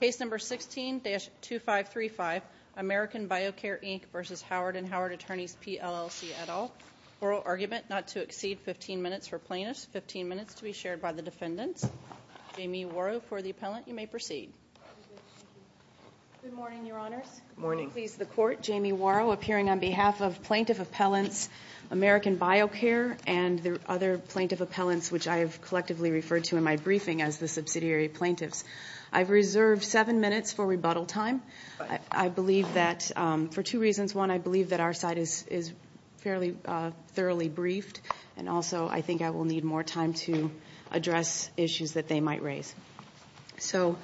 PlLC, et al. Oral argument not to exceed 15 minutes for plaintiffs, 15 minutes to be shared by the defendants. Jamie Worrow for the appellant. You may proceed. Good morning, Your Honors. Good morning. I will please the Court. Jamie Worrow, appearing on behalf of Plaintiff Appellants American BioCare and the other Plaintiff Appellants, which I have collectively referred to in my I've reserved seven minutes for rebuttal time. I believe that for two reasons. One, I believe that our side is fairly thoroughly briefed, and also I think I will need more time to address issues that they might raise. So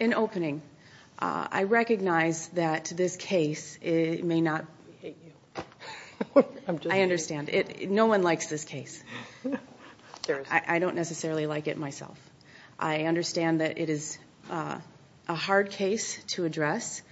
in opening, I recognize that this case may not I understand. No one likes this case. I don't necessarily like it myself. I understand that it is a hard case to address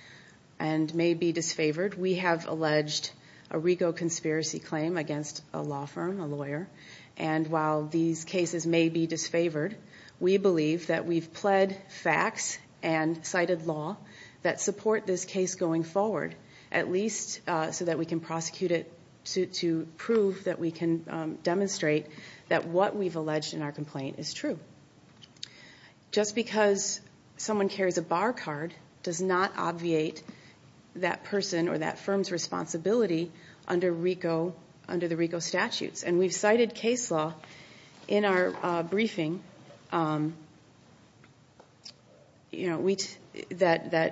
and may be disfavored. We have alleged a RICO conspiracy claim against a law firm, a lawyer, and while these cases may be disfavored, we believe that we've pled facts and cited law that support this case going forward, at least so that we can prosecute it to prove that we can demonstrate that what we've alleged in our complaint is true. Just because someone carries a bar card does not obviate that person or that firm's responsibility under the RICO statutes. And we've cited case law in our briefing that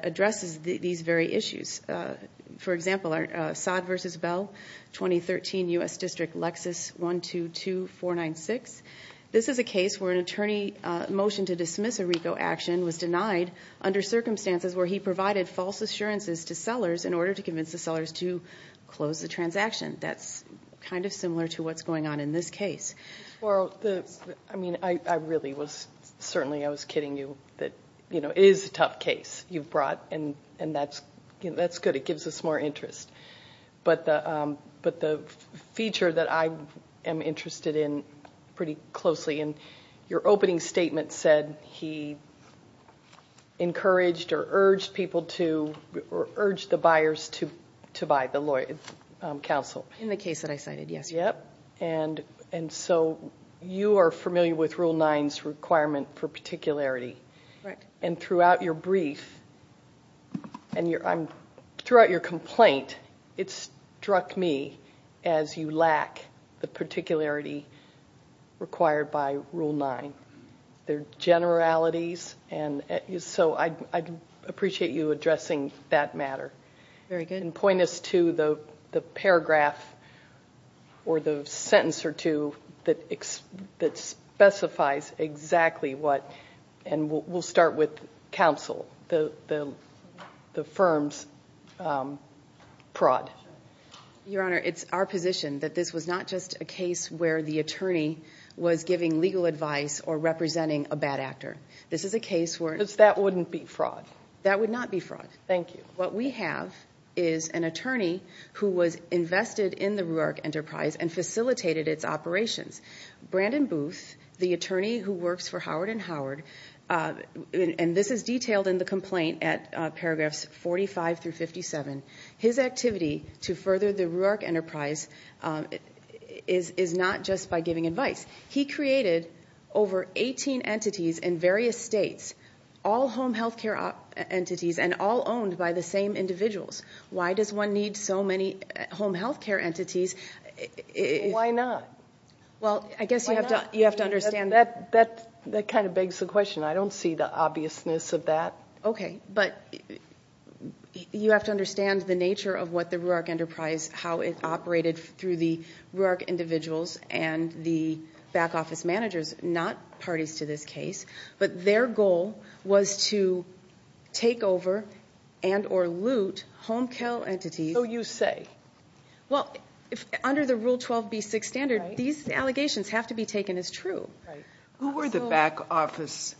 addresses these very issues. For example, our Sod v. Bell, 2013 U.S. District Lexus 122496. This is a case where an attorney motioned to dismiss a RICO action was denied under circumstances where he provided false assurances to sellers in order to convince the sellers to close the transaction. That's kind of similar to what's going on in this case. Well, I mean, I really was, certainly I was kidding you. It is a tough case you've brought and that's good. It gives us more interest. But the feature that I am interested in pretty closely, and your opening statement said he encouraged or urged people to, or urged the buyers to buy, the lawyer, counsel. In the case that I cited, yes. And so you are familiar with Rule 9's requirement for particularity. Correct. And throughout your brief, and throughout your complaint, it struck me as you lack the required by Rule 9. There are generalities, and so I'd appreciate you addressing that matter. Very good. And point us to the paragraph or the sentence or two that specifies exactly what, and we'll start with counsel, the firm's prod. Your Honor, it's our position that this was not just a case where the attorney was giving legal advice or representing a bad actor. This is a case where Because that wouldn't be fraud. That would not be fraud. Thank you. What we have is an attorney who was invested in the Ruerich Enterprise and facilitated its operations. Brandon Booth, the attorney who works for Howard & Howard, and this is Ruerich Enterprise is not just by giving advice. He created over 18 entities in various states, all home health care entities, and all owned by the same individuals. Why does one need so many home health care entities? Why not? Well, I guess you have to understand That kind of begs the question. I don't see the obviousness of that. Okay, but you have to understand the nature of what the Ruerich Enterprise, how it operated through the Ruerich individuals and the back office managers, not parties to this case, but their goal was to take over and or loot home care entities. So you say. Well, under the Rule 12b6 standard, these allegations have to be taken as true. Who were the back office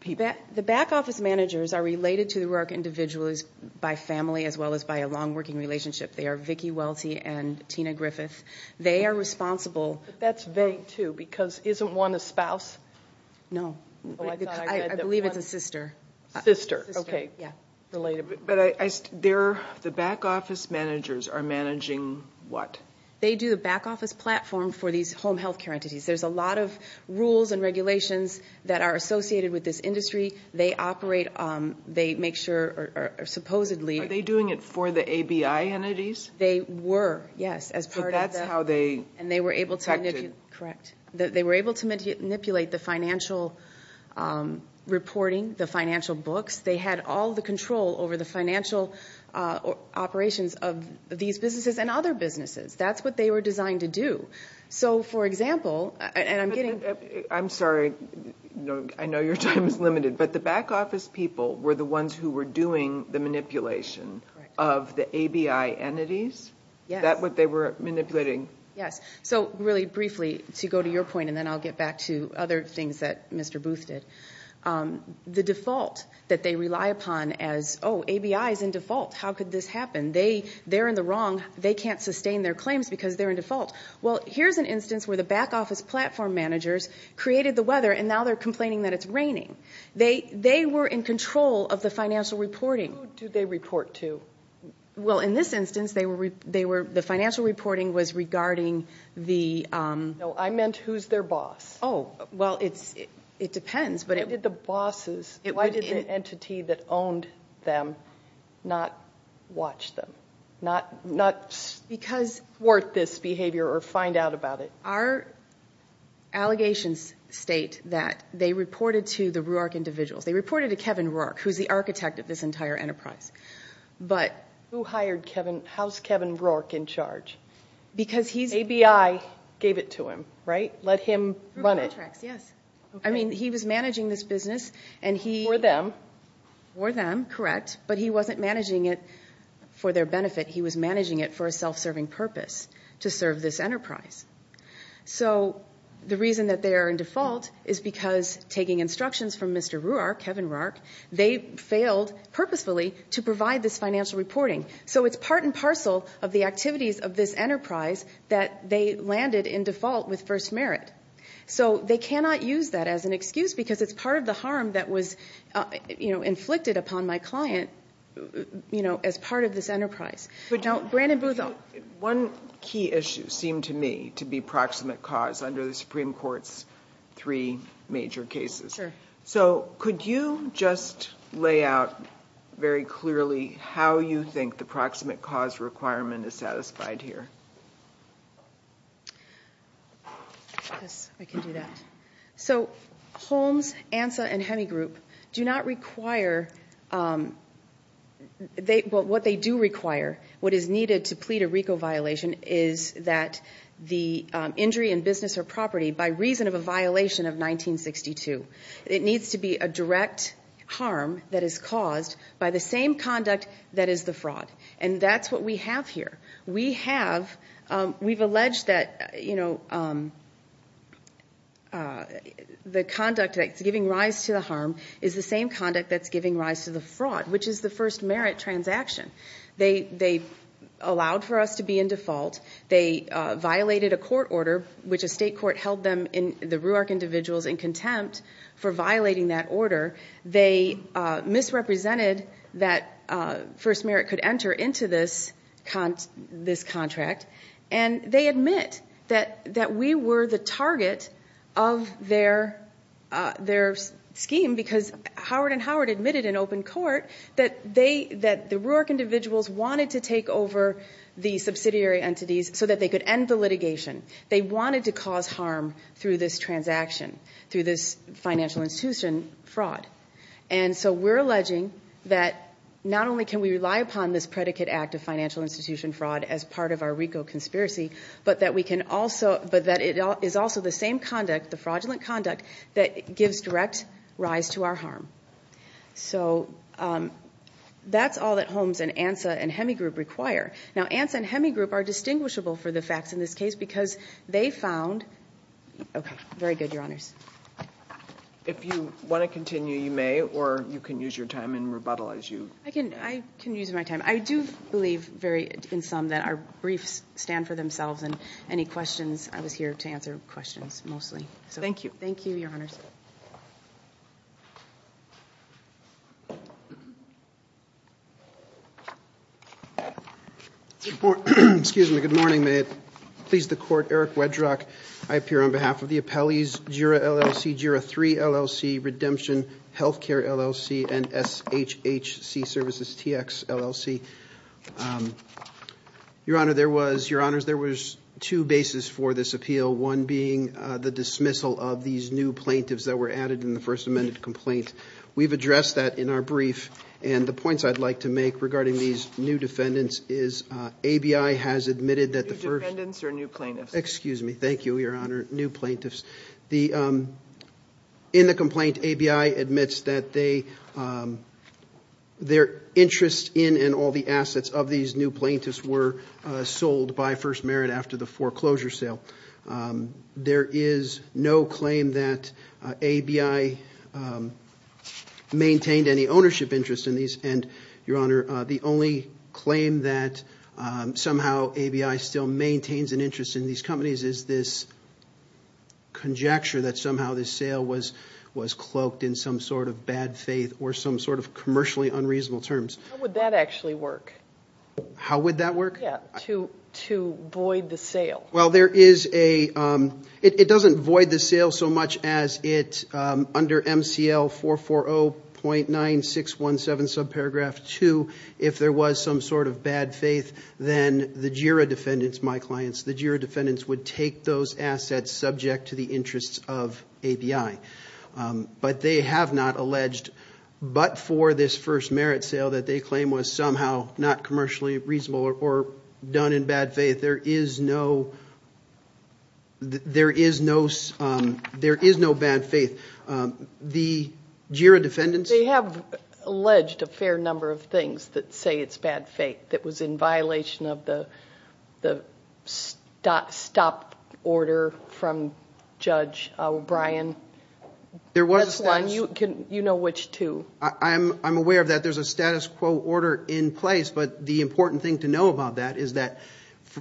people? The back office managers are related to the Ruerich individuals by family as well as by a long working relationship. They are Vicki Welty and Tina Griffith. They are responsible. That's they too, because isn't one a spouse? No. I believe it's a sister. Sister. Okay. Related. But the back office managers are managing what? They do a back office platform for these home health care entities. There's a lot of rules and regulations that are associated with this industry. They operate, they make sure or supposedly. Are they doing it for the ABI entities? They were, yes, as part of that. But that's how they. And they were able to. Correct. They were able to manipulate the financial reporting, the financial books. They had all the control over the financial operations of these businesses and other businesses. That's what they were designed to do. So, for example, and I'm getting. I'm sorry. I know your time is limited, but the back office people were the ones who were doing the manipulation of the ABI entities. Yes. That what they were manipulating. Yes. So, really briefly, to go to your point, and then I'll get back to other things that Mr. Booth did. The default that they rely upon as, oh, ABI is in default. How could this happen? They, they're in the wrong. They can't sustain their claims because they're in default. Well, here's an instance where the back office platform managers created the weather, and now they're complaining that it's raining. They, they were in control of the financial reporting. Who do they report to? Well, in this instance, they were, they were, the financial reporting was regarding the. No, I meant who's their boss. Oh, well, it's, it depends, but. Why did the bosses, why did the entity that owned them not watch them? Not, not. Because. Thwart this behavior, or find out about it. Our allegations state that they reported to the Rourke individuals. They reported to Kevin Rourke, who's the architect of this entire enterprise. But. Who hired Kevin, how's Kevin Rourke in charge? Because he's. ABI gave it to him, right? Let him run it. Through contracts, yes. I mean, he was managing this business, and he. For them. For them, correct. But he wasn't managing it for their benefit. He was managing it for a self-serving purpose to serve this enterprise. So the reason that they are in default is because taking instructions from Mr. Rourke, Kevin Rourke, they failed purposefully to provide this financial reporting. So it's part and parcel of the activities of this enterprise that they landed in default with first merit. So they cannot use that as an excuse because it's part of the harm that was, you know, inflicted upon my client, you know, as part of this enterprise. But don't. Brandon Booth. One key issue seemed to me to be proximate cause under the Supreme Court's three major cases. Sure. So could you just lay out very clearly how you think the proximate cause requirement is satisfied here? Yes, I can do that. So Holmes, Ansa, and Hemigroup do not require, what they do require, what is needed to plead a RICO violation is that the injury in business or property, by reason of a violation of 1962, it needs to be a direct harm that is caused by the same conduct that is the fraud. And that's what we have here. We have, we've alleged that, you know, the conduct that's giving rise to the harm is the same conduct that's giving rise to the fraud, which is the first merit transaction. They allowed for us to be in default. They violated a court order, which a state court held them, the RUARC individuals, in contempt for violating that order. They misrepresented that first merit could enter into this contract. And they admit that we were the target of their scheme because Howard and Howard admitted in open court that they, that the RUARC individuals wanted to take over the subsidiary entities They wanted to cause harm through this transaction, through this financial institution fraud. And so we're alleging that not only can we rely upon this predicate act of financial institution fraud as part of our RICO conspiracy, but that we can also, but that it is also the same conduct, the fraudulent conduct, that gives direct rise to our harm. So that's all that Holmes and Ansa and Hemigroup require. Now, Ansa and Hemigroup are distinguishable for the facts in this case because they found, okay, very good, your honors. If you want to continue, you may, or you can use your time and rebuttal as you. I can use my time. I do believe very in some that our briefs stand for themselves and any questions, I was here to answer questions mostly. Thank you. Thank you, your honors. Excuse me. Good morning. May it please the court. Eric Wedrock. I appear on behalf of the appellees, JIRA LLC, JIRA III LLC, Redemption Healthcare LLC, and SHHC Services TX LLC. Your honor, there was, your honors, there was two bases for this appeal. One being the dismissal of these new plaintiffs that were added in the First Amendment complaint. We've addressed that in our brief, and the points I'd like to make regarding these new defendants is ABI has admitted that the first- New defendants or new plaintiffs? Excuse me. Thank you, your honor. New plaintiffs. In the complaint, ABI admits that their interest in and all the assets of these new plaintiffs were sold by First Merit after the foreclosure sale. There is no claim that ABI maintained any ownership interest in these, and your honor, the only claim that somehow ABI still maintains an interest in these companies is this conjecture that somehow this sale was cloaked in some sort of bad faith or some sort of commercially unreasonable terms. How would that actually work? How would that work? Yeah. To void the sale. Well, there is a, it doesn't void the sale so much as it, under MCL 440.9617, subparagraph 2, if there was some sort of bad faith, then the JIRA defendants, my clients, the JIRA defendants would take those assets subject to the interests of ABI. But they have not alleged, but for this First Merit sale that they claim was somehow not commercially reasonable or done in bad faith, there is no, there is no, there is no bad faith. The JIRA defendants. They have alleged a fair number of things that say it's bad faith, that was in violation of the stop order from Judge O'Brien. There was a status. That's one. You know which two. I'm aware of that. There's a status quo order in place, but the important thing to know about that is that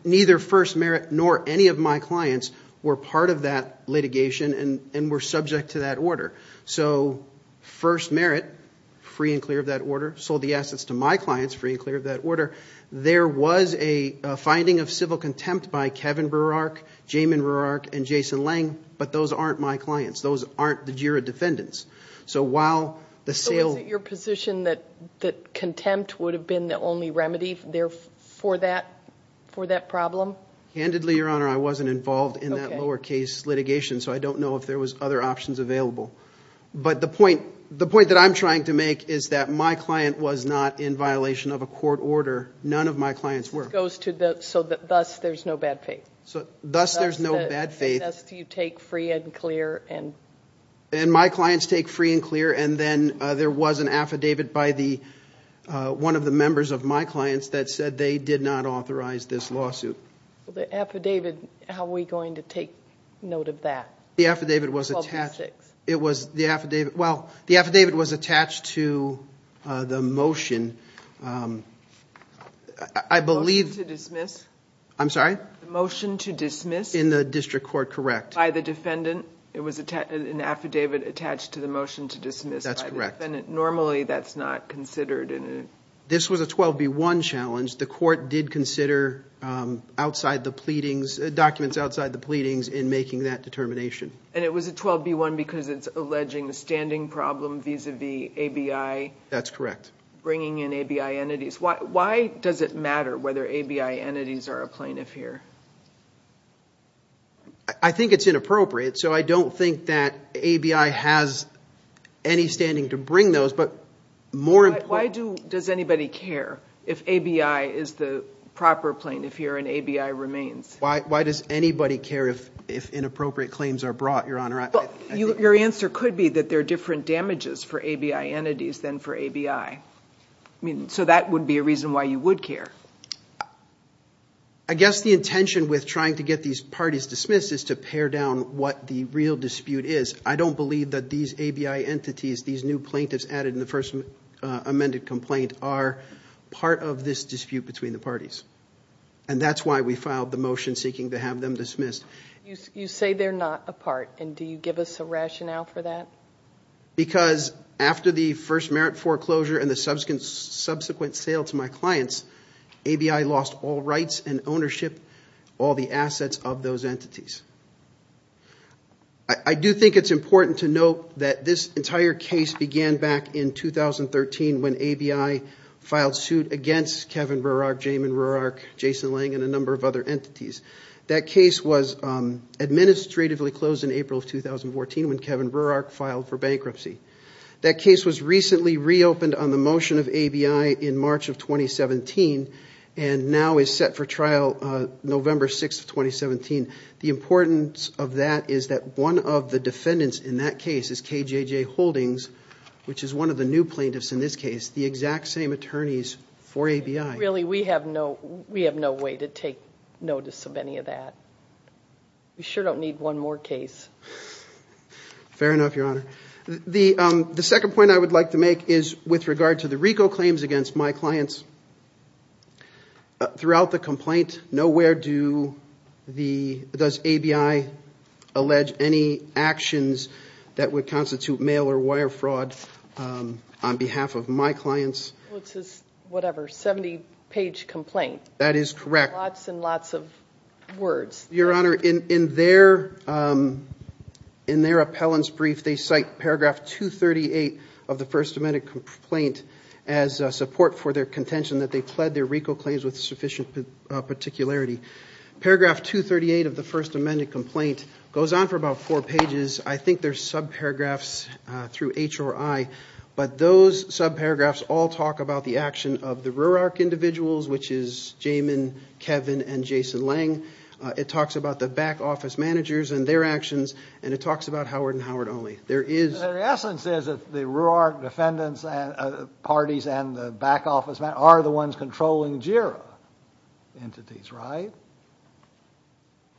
neither First Merit nor any of my clients were part of that litigation and were subject to that order. So First Merit, free and clear of that order, sold the assets to my clients, free and clear of that order. There was a finding of civil contempt by Kevin Burrark, Jamin Burrark, and Jason Lange, but those aren't my clients. Those aren't the JIRA defendants. So while the sale... So is it your position that contempt would have been the only remedy there for that, for that problem? Handedly, Your Honor, I wasn't involved in that lower case litigation, so I don't know if there was other options available. But the point, the point that I'm trying to make is that my client was not in violation of a court order. None of my clients were. It goes to the... So thus, there's no bad faith. So thus, there's no bad faith. Thus, you take free and clear and... And my clients take free and clear, and then there was an affidavit by the, one of the members of my clients that said they did not authorize this lawsuit. The affidavit, how are we going to take note of that? The affidavit was attached... Publicistics. I believe... Motion to dismiss. I'm sorry? The motion to dismiss... In the district court, correct. By the defendant. It was an affidavit attached to the motion to dismiss. That's correct. Normally, that's not considered in... This was a 12b1 challenge. The court did consider outside the pleadings, documents outside the pleadings in making that determination. And it was a 12b1 because it's alleging the standing problem vis-a-vis ABI... That's correct. Bringing in ABI entities. Why does it matter whether ABI entities are a plaintiff here? I think it's inappropriate, so I don't think that ABI has any standing to bring those, but more... Why does anybody care if ABI is the proper plaintiff here and ABI remains? Why does anybody care if inappropriate claims are brought, Your Honor? Your answer could be that there are different damages for ABI entities than for ABI. So that would be a reason why you would care. I guess the intention with trying to get these parties dismissed is to pare down what the real dispute is. I don't believe that these ABI entities, these new plaintiffs added in the first amended complaint are part of this dispute between the parties. And that's why we filed the motion seeking to have them dismissed. You say they're not a part, and do you give us a rationale for that? Because after the first merit foreclosure and the subsequent sale to my clients, ABI lost all rights and ownership, all the assets of those entities. I do think it's important to note that this entire case began back in 2013 when ABI filed suit against Kevin Roerach, Jamin Roerach, Jason Lang, and a number of other entities. That case was administratively closed in April of 2014 when Kevin Roerach filed for bankruptcy. That case was recently reopened on the motion of ABI in March of 2017 and now is set for trial November 6th, 2017. The importance of that is that one of the defendants in that case is KJJ Holdings, which is one of the new plaintiffs in this case, the exact same attorneys for ABI. Really, we have no way to take notice of any of that. We sure don't need one more case. Fair enough, Your Honor. The second point I would like to make is with regard to the RICO claims against my clients, throughout the complaint, nowhere does ABI allege any actions that would constitute mail or wire fraud on behalf of my clients. It's a 70-page complaint. That is correct. Lots and lots of words. Your Honor, in their appellant's brief, they cite paragraph 238 of the First Amendment complaint as support for their contention that they pled their RICO claims with sufficient particularity. Paragraph 238 of the First Amendment complaint goes on for about four pages. I think there's subparagraphs through HRI, but those subparagraphs all talk about the action of the RUARC individuals, which is Jamin, Kevin, and Jason Lang. It talks about the back office managers and their actions, and it talks about Howard and Howard only. There is... The essence is that the RUARC defendants, parties, and the back office are the ones controlling JIRA entities, right?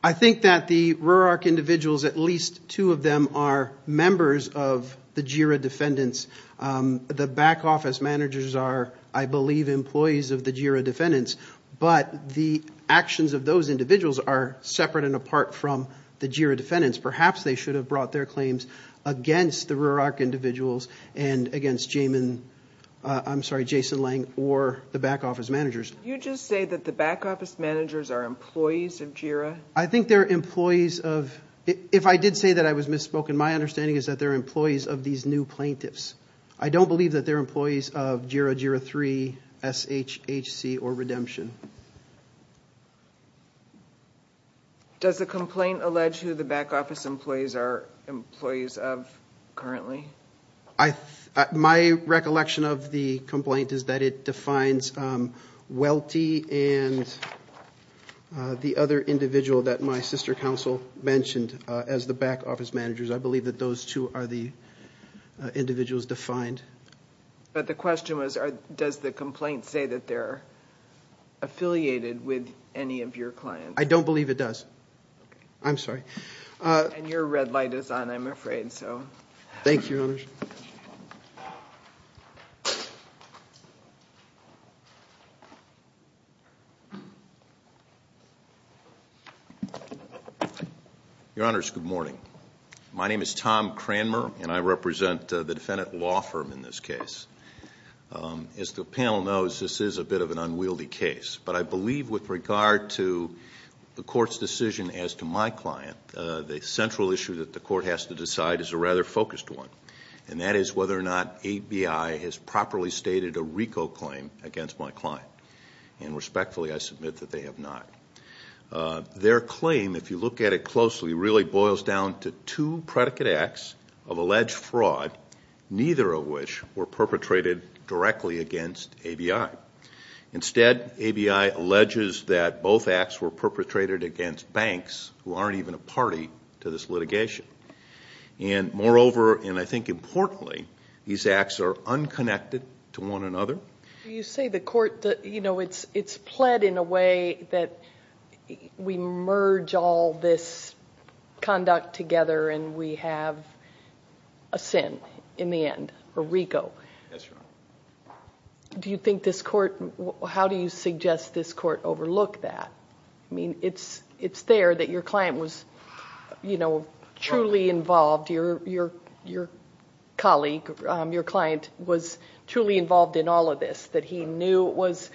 I think that the RUARC individuals, at least two of them are members of the JIRA defendants. The back office managers are, I believe, employees of the JIRA defendants, but the actions of those individuals are separate and apart from the JIRA defendants. Perhaps they should have brought their claims against the RUARC individuals and against Jamin... I'm sorry, Jason Lang, or the back office managers. Did you just say that the back office managers are employees of JIRA? I think they're employees of... If I did say that I was misspoken, my understanding is that they're employees of these new plaintiffs. I don't believe that they're employees of JIRA, JIRA 3, SHHC, or Redemption. Does the complaint allege who the back office employees are employees of currently? My recollection of the complaint is that it defines Welty and the other individual that my sister counsel mentioned as the back office managers. I believe that those two are the individuals defined. But the question was, does the complaint say that they're affiliated with any of your clients? I don't believe it does. I'm sorry. And your red light is on, I'm afraid, so... Thank you, Your Honors. Your Honors, good morning. My name is Tom Cranmer, and I represent the defendant law firm in this case. As the panel knows, this is a bit of an unwieldy case, but I believe with regard to the court's decision as to my client, the central issue that the court has to decide is a rather focused one, and that is whether or not ABI has properly stated a RICO claim against my client. And respectfully, I submit that they have not. Their claim, if you look at it closely, really boils down to two predicate acts of alleged fraud, neither of which were perpetrated directly against ABI. Instead, ABI alleges that both acts were perpetrated against banks who aren't even a party to this litigation. And moreover, and I think importantly, these acts are unconnected to one another. You say the court, you know, it's pled in a way that we merge all this conduct together and we have a sin in the end, a RICO. Do you think this court, how do you suggest this court overlook that? I mean, it's there that your client was, you know, truly involved. Your colleague, your client was truly involved in all of this, that he knew it was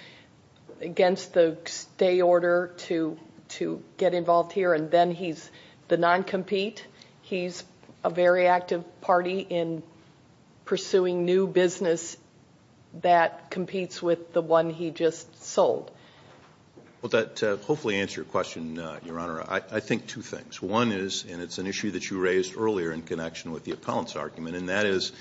against the stay order to get involved here, and then he's the non-compete. He's a very active party in pursuing new business that competes with the one he just sold. Well, to hopefully answer your question, Your Honor, I think two things. One is, and it's an issue that you raised earlier in connection with the appellant's argument, and that is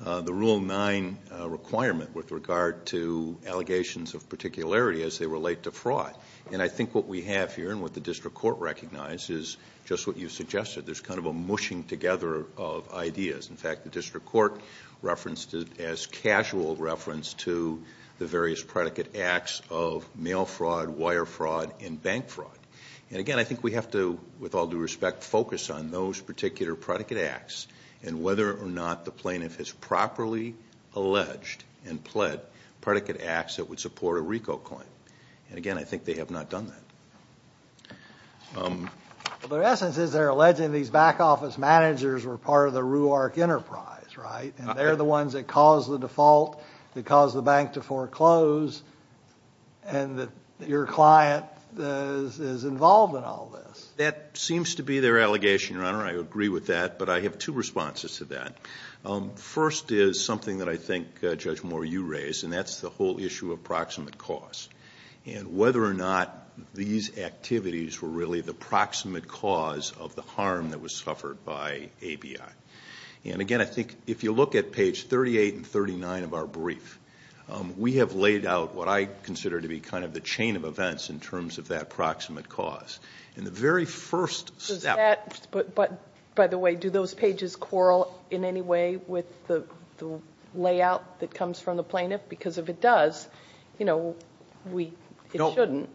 the Rule 9 requirement with regard to allegations of particularity as they relate to fraud. And I think what we have here and what the district court recognized is just what you suggested. There's kind of a mushing together of ideas. In fact, the district court referenced it as casual reference to the various predicate acts of mail fraud, wire fraud, and bank fraud. And again, I think we have to, with all due respect, focus on those particular predicate acts and whether or not the plaintiff has properly alleged and pled predicate acts that would support a RICO claim. And again, I think they have not done that. Well, their essence is they're alleging these back office managers were part of the RUARC enterprise, right? And they're the ones that caused the default, that caused the bank to foreclose, and that your client is involved in all this. That seems to be their allegation, Your Honor. I agree with that. But I have two responses to that. First is something that I think, Judge Moore, you raised, and that's the whole issue of proximate cause and whether or not these activities were really the proximate cause of the harm that was suffered by ABI. And again, I think if you look at page 38 and 39 of our brief, we have laid out what I consider to be kind of the chain of events in terms of that proximate cause. And the very first step... But by the way, do those pages quarrel in any way with the layout that comes from the plaintiff? Because if it does, you know, it shouldn't.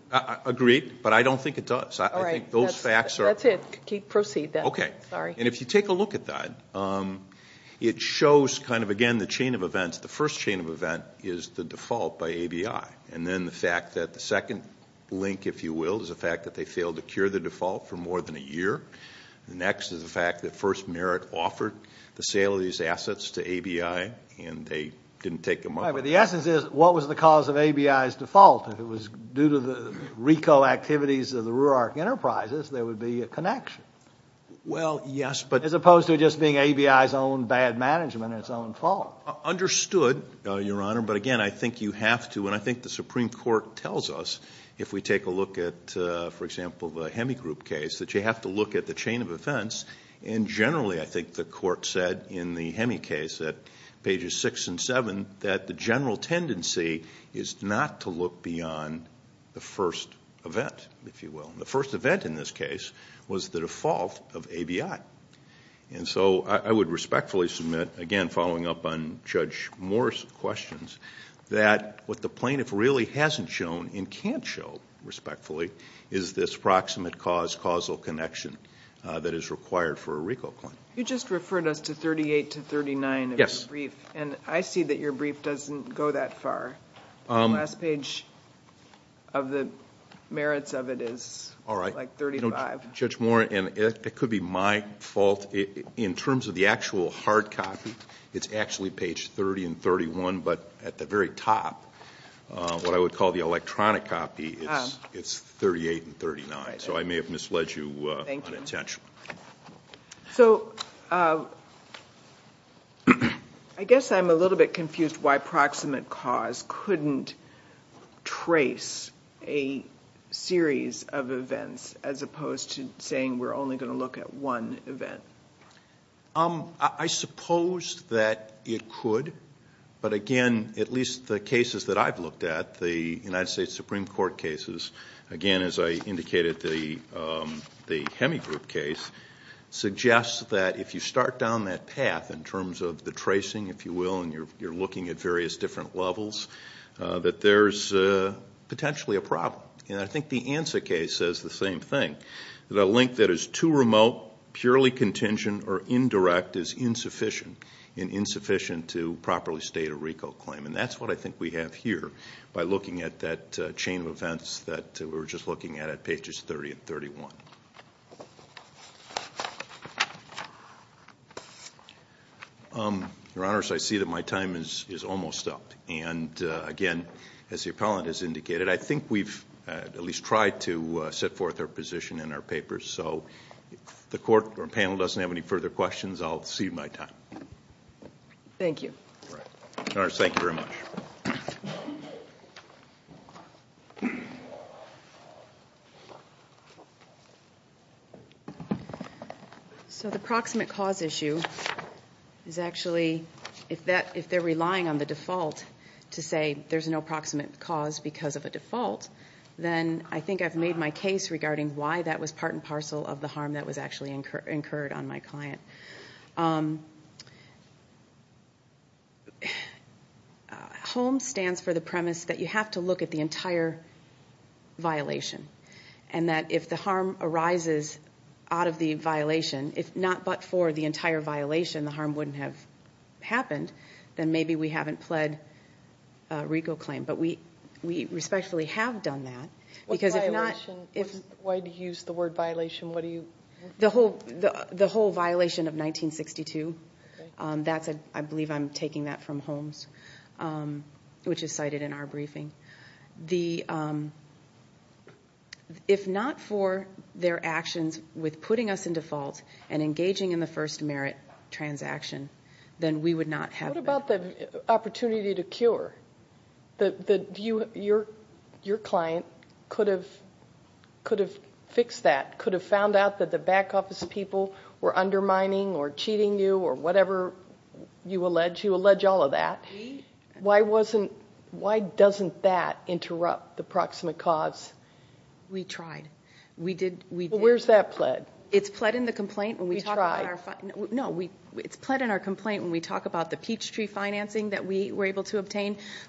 Agreed. But I don't think it does. All right. I think those facts are... That's it. Proceed then. Okay. Sorry. And if you take a look at that, it shows kind of, again, the chain of events. The first chain of event is the default by ABI. And then the fact that the second link, if you will, is the fact that they failed to cure the default for more than a year. Next is the fact that First Merit offered the sale of these assets to ABI and they didn't take them up. All right. But the essence is, what was the cause of ABI's default? If it was due to the RICO activities of the Rurark Enterprises, there would be a connection. Well, yes, but... As opposed to it just being ABI's own bad management and its own fault. Understood, Your Honor. But again, I think you have to... And I think the Supreme Court tells us, if we take a look at, for example, the Hemi Group case, that you have to look at the chain of events. And generally, I think the court said in the Hemi case at pages six and seven, that the the first event, if you will. The first event in this case was the default of ABI. And so I would respectfully submit, again, following up on Judge Moore's questions, that what the plaintiff really hasn't shown and can't show, respectfully, is this proximate cause-causal connection that is required for a RICO claim. You just referred us to 38 to 39 of your brief, and I see that your brief doesn't go that far. The last page of the merits of it is like 35. All right. Judge Moore, and it could be my fault. In terms of the actual hard copy, it's actually page 30 and 31, but at the very top, what I would call the electronic copy, it's 38 and 39. So I may have misled you unintentionally. So I guess I'm a little bit confused why proximate cause couldn't trace a series of events as opposed to saying we're only going to look at one event. I suppose that it could, but again, at least the cases that I've looked at, the United States, suggests that if you start down that path in terms of the tracing, if you will, and you're looking at various different levels, that there's potentially a problem. And I think the ANSA case says the same thing, that a link that is too remote, purely contingent or indirect is insufficient, and insufficient to properly state a RICO claim. And that's what I think we have here by looking at that chain of events that we were just looking at at pages 30 and 31. Your Honors, I see that my time is almost up. And again, as the appellant has indicated, I think we've at least tried to set forth our position in our papers. So if the court or panel doesn't have any further questions, I'll cede my time. Thank you. Your Honors, thank you very much. Thank you. So the proximate cause issue is actually, if they're relying on the default to say there's no proximate cause because of a default, then I think I've made my case regarding why that was part and parcel of the harm that was actually incurred on my client. HOME stands for the premise that you have to look at the entire violation. And that if the harm arises out of the violation, if not but for the entire violation, the harm wouldn't have happened, then maybe we haven't pled a RICO claim. But we respectfully have done that. What violation? Why do you use the word violation? The whole violation of 1962. I believe I'm taking that from HOMES, which is cited in our briefing. If not for their actions with putting us in default and engaging in the first merit transaction, then we would not have that. What about the opportunity to cure? Your client could have fixed that, could have found out that the back office people were undermining or cheating you or whatever you allege. You allege all of that. Why doesn't that interrupt the proximate cause? We tried. We did. Well, where's that pled? It's pled in the complaint. We tried. No, it's pled in our complaint when we talk about the Peachtree financing that we were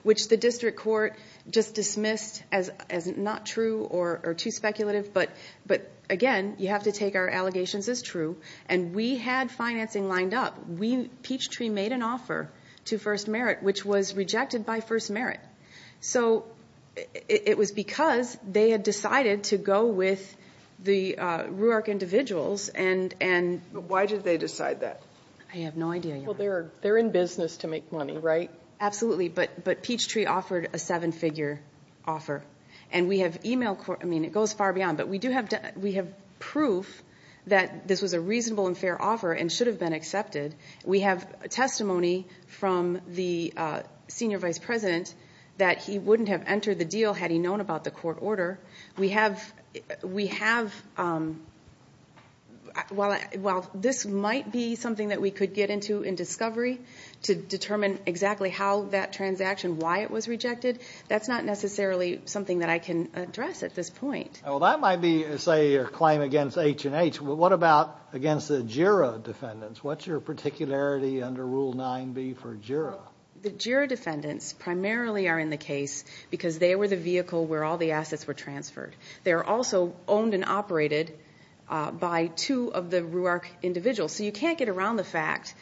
which the district court just dismissed as not true or too speculative. But again, you have to take our allegations as true. And we had financing lined up. Peachtree made an offer to first merit, which was rejected by first merit. So it was because they had decided to go with the RUARC individuals. Why did they decide that? I have no idea, Your Honor. They're in business to make money, right? Absolutely. But Peachtree offered a seven-figure offer. And we have e-mail, I mean, it goes far beyond, but we do have proof that this was a reasonable and fair offer and should have been accepted. We have testimony from the senior vice president that he wouldn't have entered the deal had he known about the court order. We have, while this might be something that we could get into in discovery to determine exactly how that transaction, why it was rejected, that's not necessarily something that I can address at this point. Well, that might be, say, your claim against H&H. What about against the JIRA defendants? What's your particularity under Rule 9b for JIRA? The JIRA defendants primarily are in the case because they were the vehicle where all the assets were transferred. They're also owned and operated by two of the RUARC individuals. So you can't get around the fact,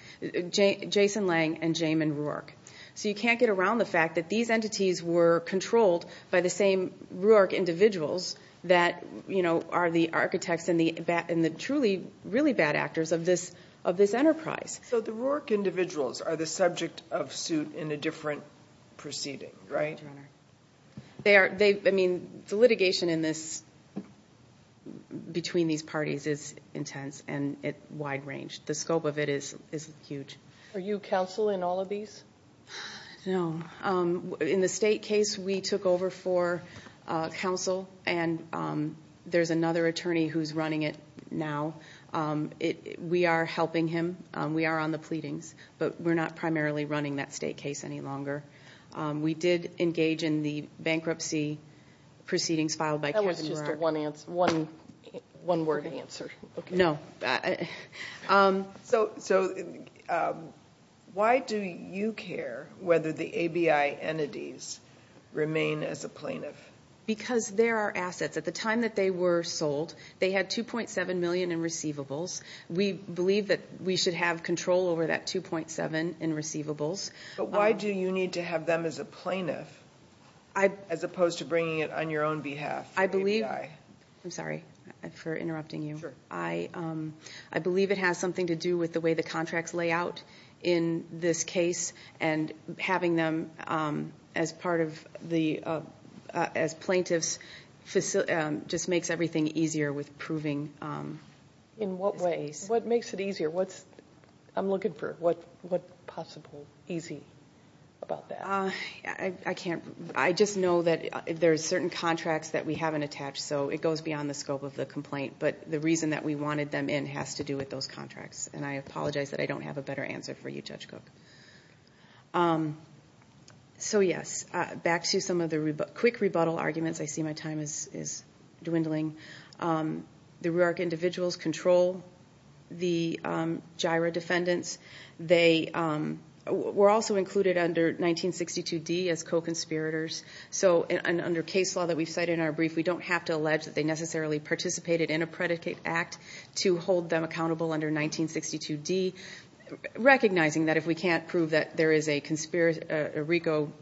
Jason Lang and Jamin RUARC, so you can't get around the fact that these entities were controlled by the same RUARC individuals that, you know, are the architects and the truly really bad actors of this enterprise. So the RUARC individuals are the subject of suit in a different proceeding, right? I mean, the litigation in this, between these parties, is intense and wide-ranged. The scope of it is huge. Are you counsel in all of these? No. In the state case, we took over for counsel, and there's another attorney who's running it now. We are helping him. We are on the pleadings, but we're not primarily running that state case any longer. We did engage in the bankruptcy proceedings filed by Kevin RUARC. That was just a one-word answer. No. So why do you care whether the ABI entities remain as a plaintiff? Because they're our assets. At the time that they were sold, they had $2.7 million in receivables. We believe that we should have control over that $2.7 in receivables. But why do you need to have them as a plaintiff, as opposed to bringing it on your own behalf? I believe, I'm sorry for interrupting you. I believe it has something to do with the way the contracts lay out in this case. And having them as plaintiffs just makes everything easier with proving. In what ways? What makes it easier? I'm looking for what possible easy about that. I just know that there are certain contracts that we haven't attached, so it goes beyond the scope of the complaint. But the reason that we wanted them in has to do with those contracts. And I apologize that I don't have a better answer for you, Judge Cook. So yes, back to some of the quick rebuttal arguments. I see my time is dwindling. The RIARC individuals control the GIRA defendants. They were also included under 1962D as co-conspirators. So under case law that we've cited in our brief, we don't have to allege that they necessarily participated in a predicate act to hold them accountable under 1962D. Recognizing that if we can't prove that there is a RICO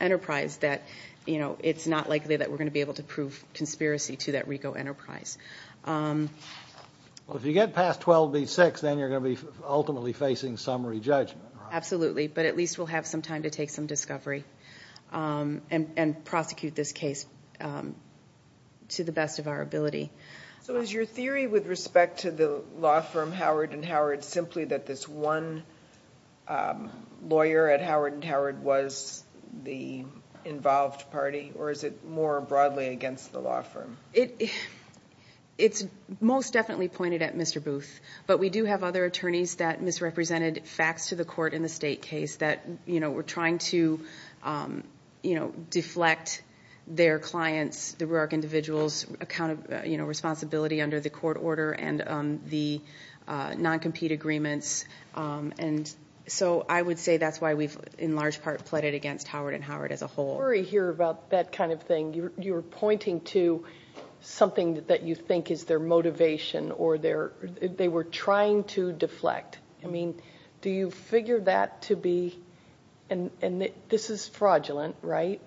enterprise, that it's not likely that we're going to be able to prove conspiracy to that RICO enterprise. Well, if you get past 12B6, then you're going to be ultimately facing summary judgment. Absolutely. But at least we'll have some time to take some discovery and prosecute this case to the best of our ability. So is your theory with respect to the law firm Howard & Howard involved party, or is it more broadly against the law firm? It's most definitely pointed at Mr. Booth. But we do have other attorneys that misrepresented facts to the court in the state case that were trying to deflect their clients, the RIARC individuals' accountability under the court order and the non-compete agreements. And so I would say that's why we've in large part pleaded against Howard & Howard as a whole. I worry here about that kind of thing. You're pointing to something that you think is their motivation or they were trying to deflect. I mean, do you figure that to be, and this is fraudulent, right?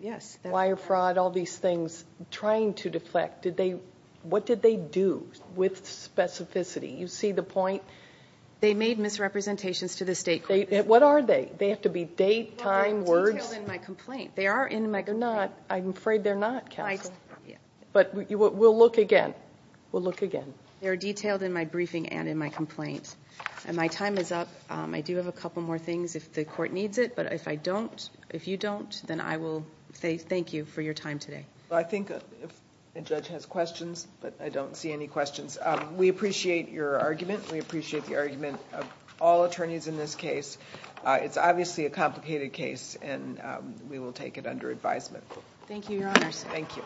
Yes. Wire fraud, all these things, trying to deflect. What did they do with specificity? You see the point? They made misrepresentations to the state court. What are they? They have to be date, time, words. They're detailed in my complaint. They are in my complaint. I'm afraid they're not, counsel. But we'll look again. We'll look again. They're detailed in my briefing and in my complaint. And my time is up. I do have a couple more things if the court needs it. But if I don't, if you don't, then I will say thank you for your time today. I think the judge has questions, but I don't see any questions. We appreciate your argument. We appreciate the argument of all attorneys in this case. It's obviously a complicated case, and we will take it under advisement. Thank you, your honors. Thank you.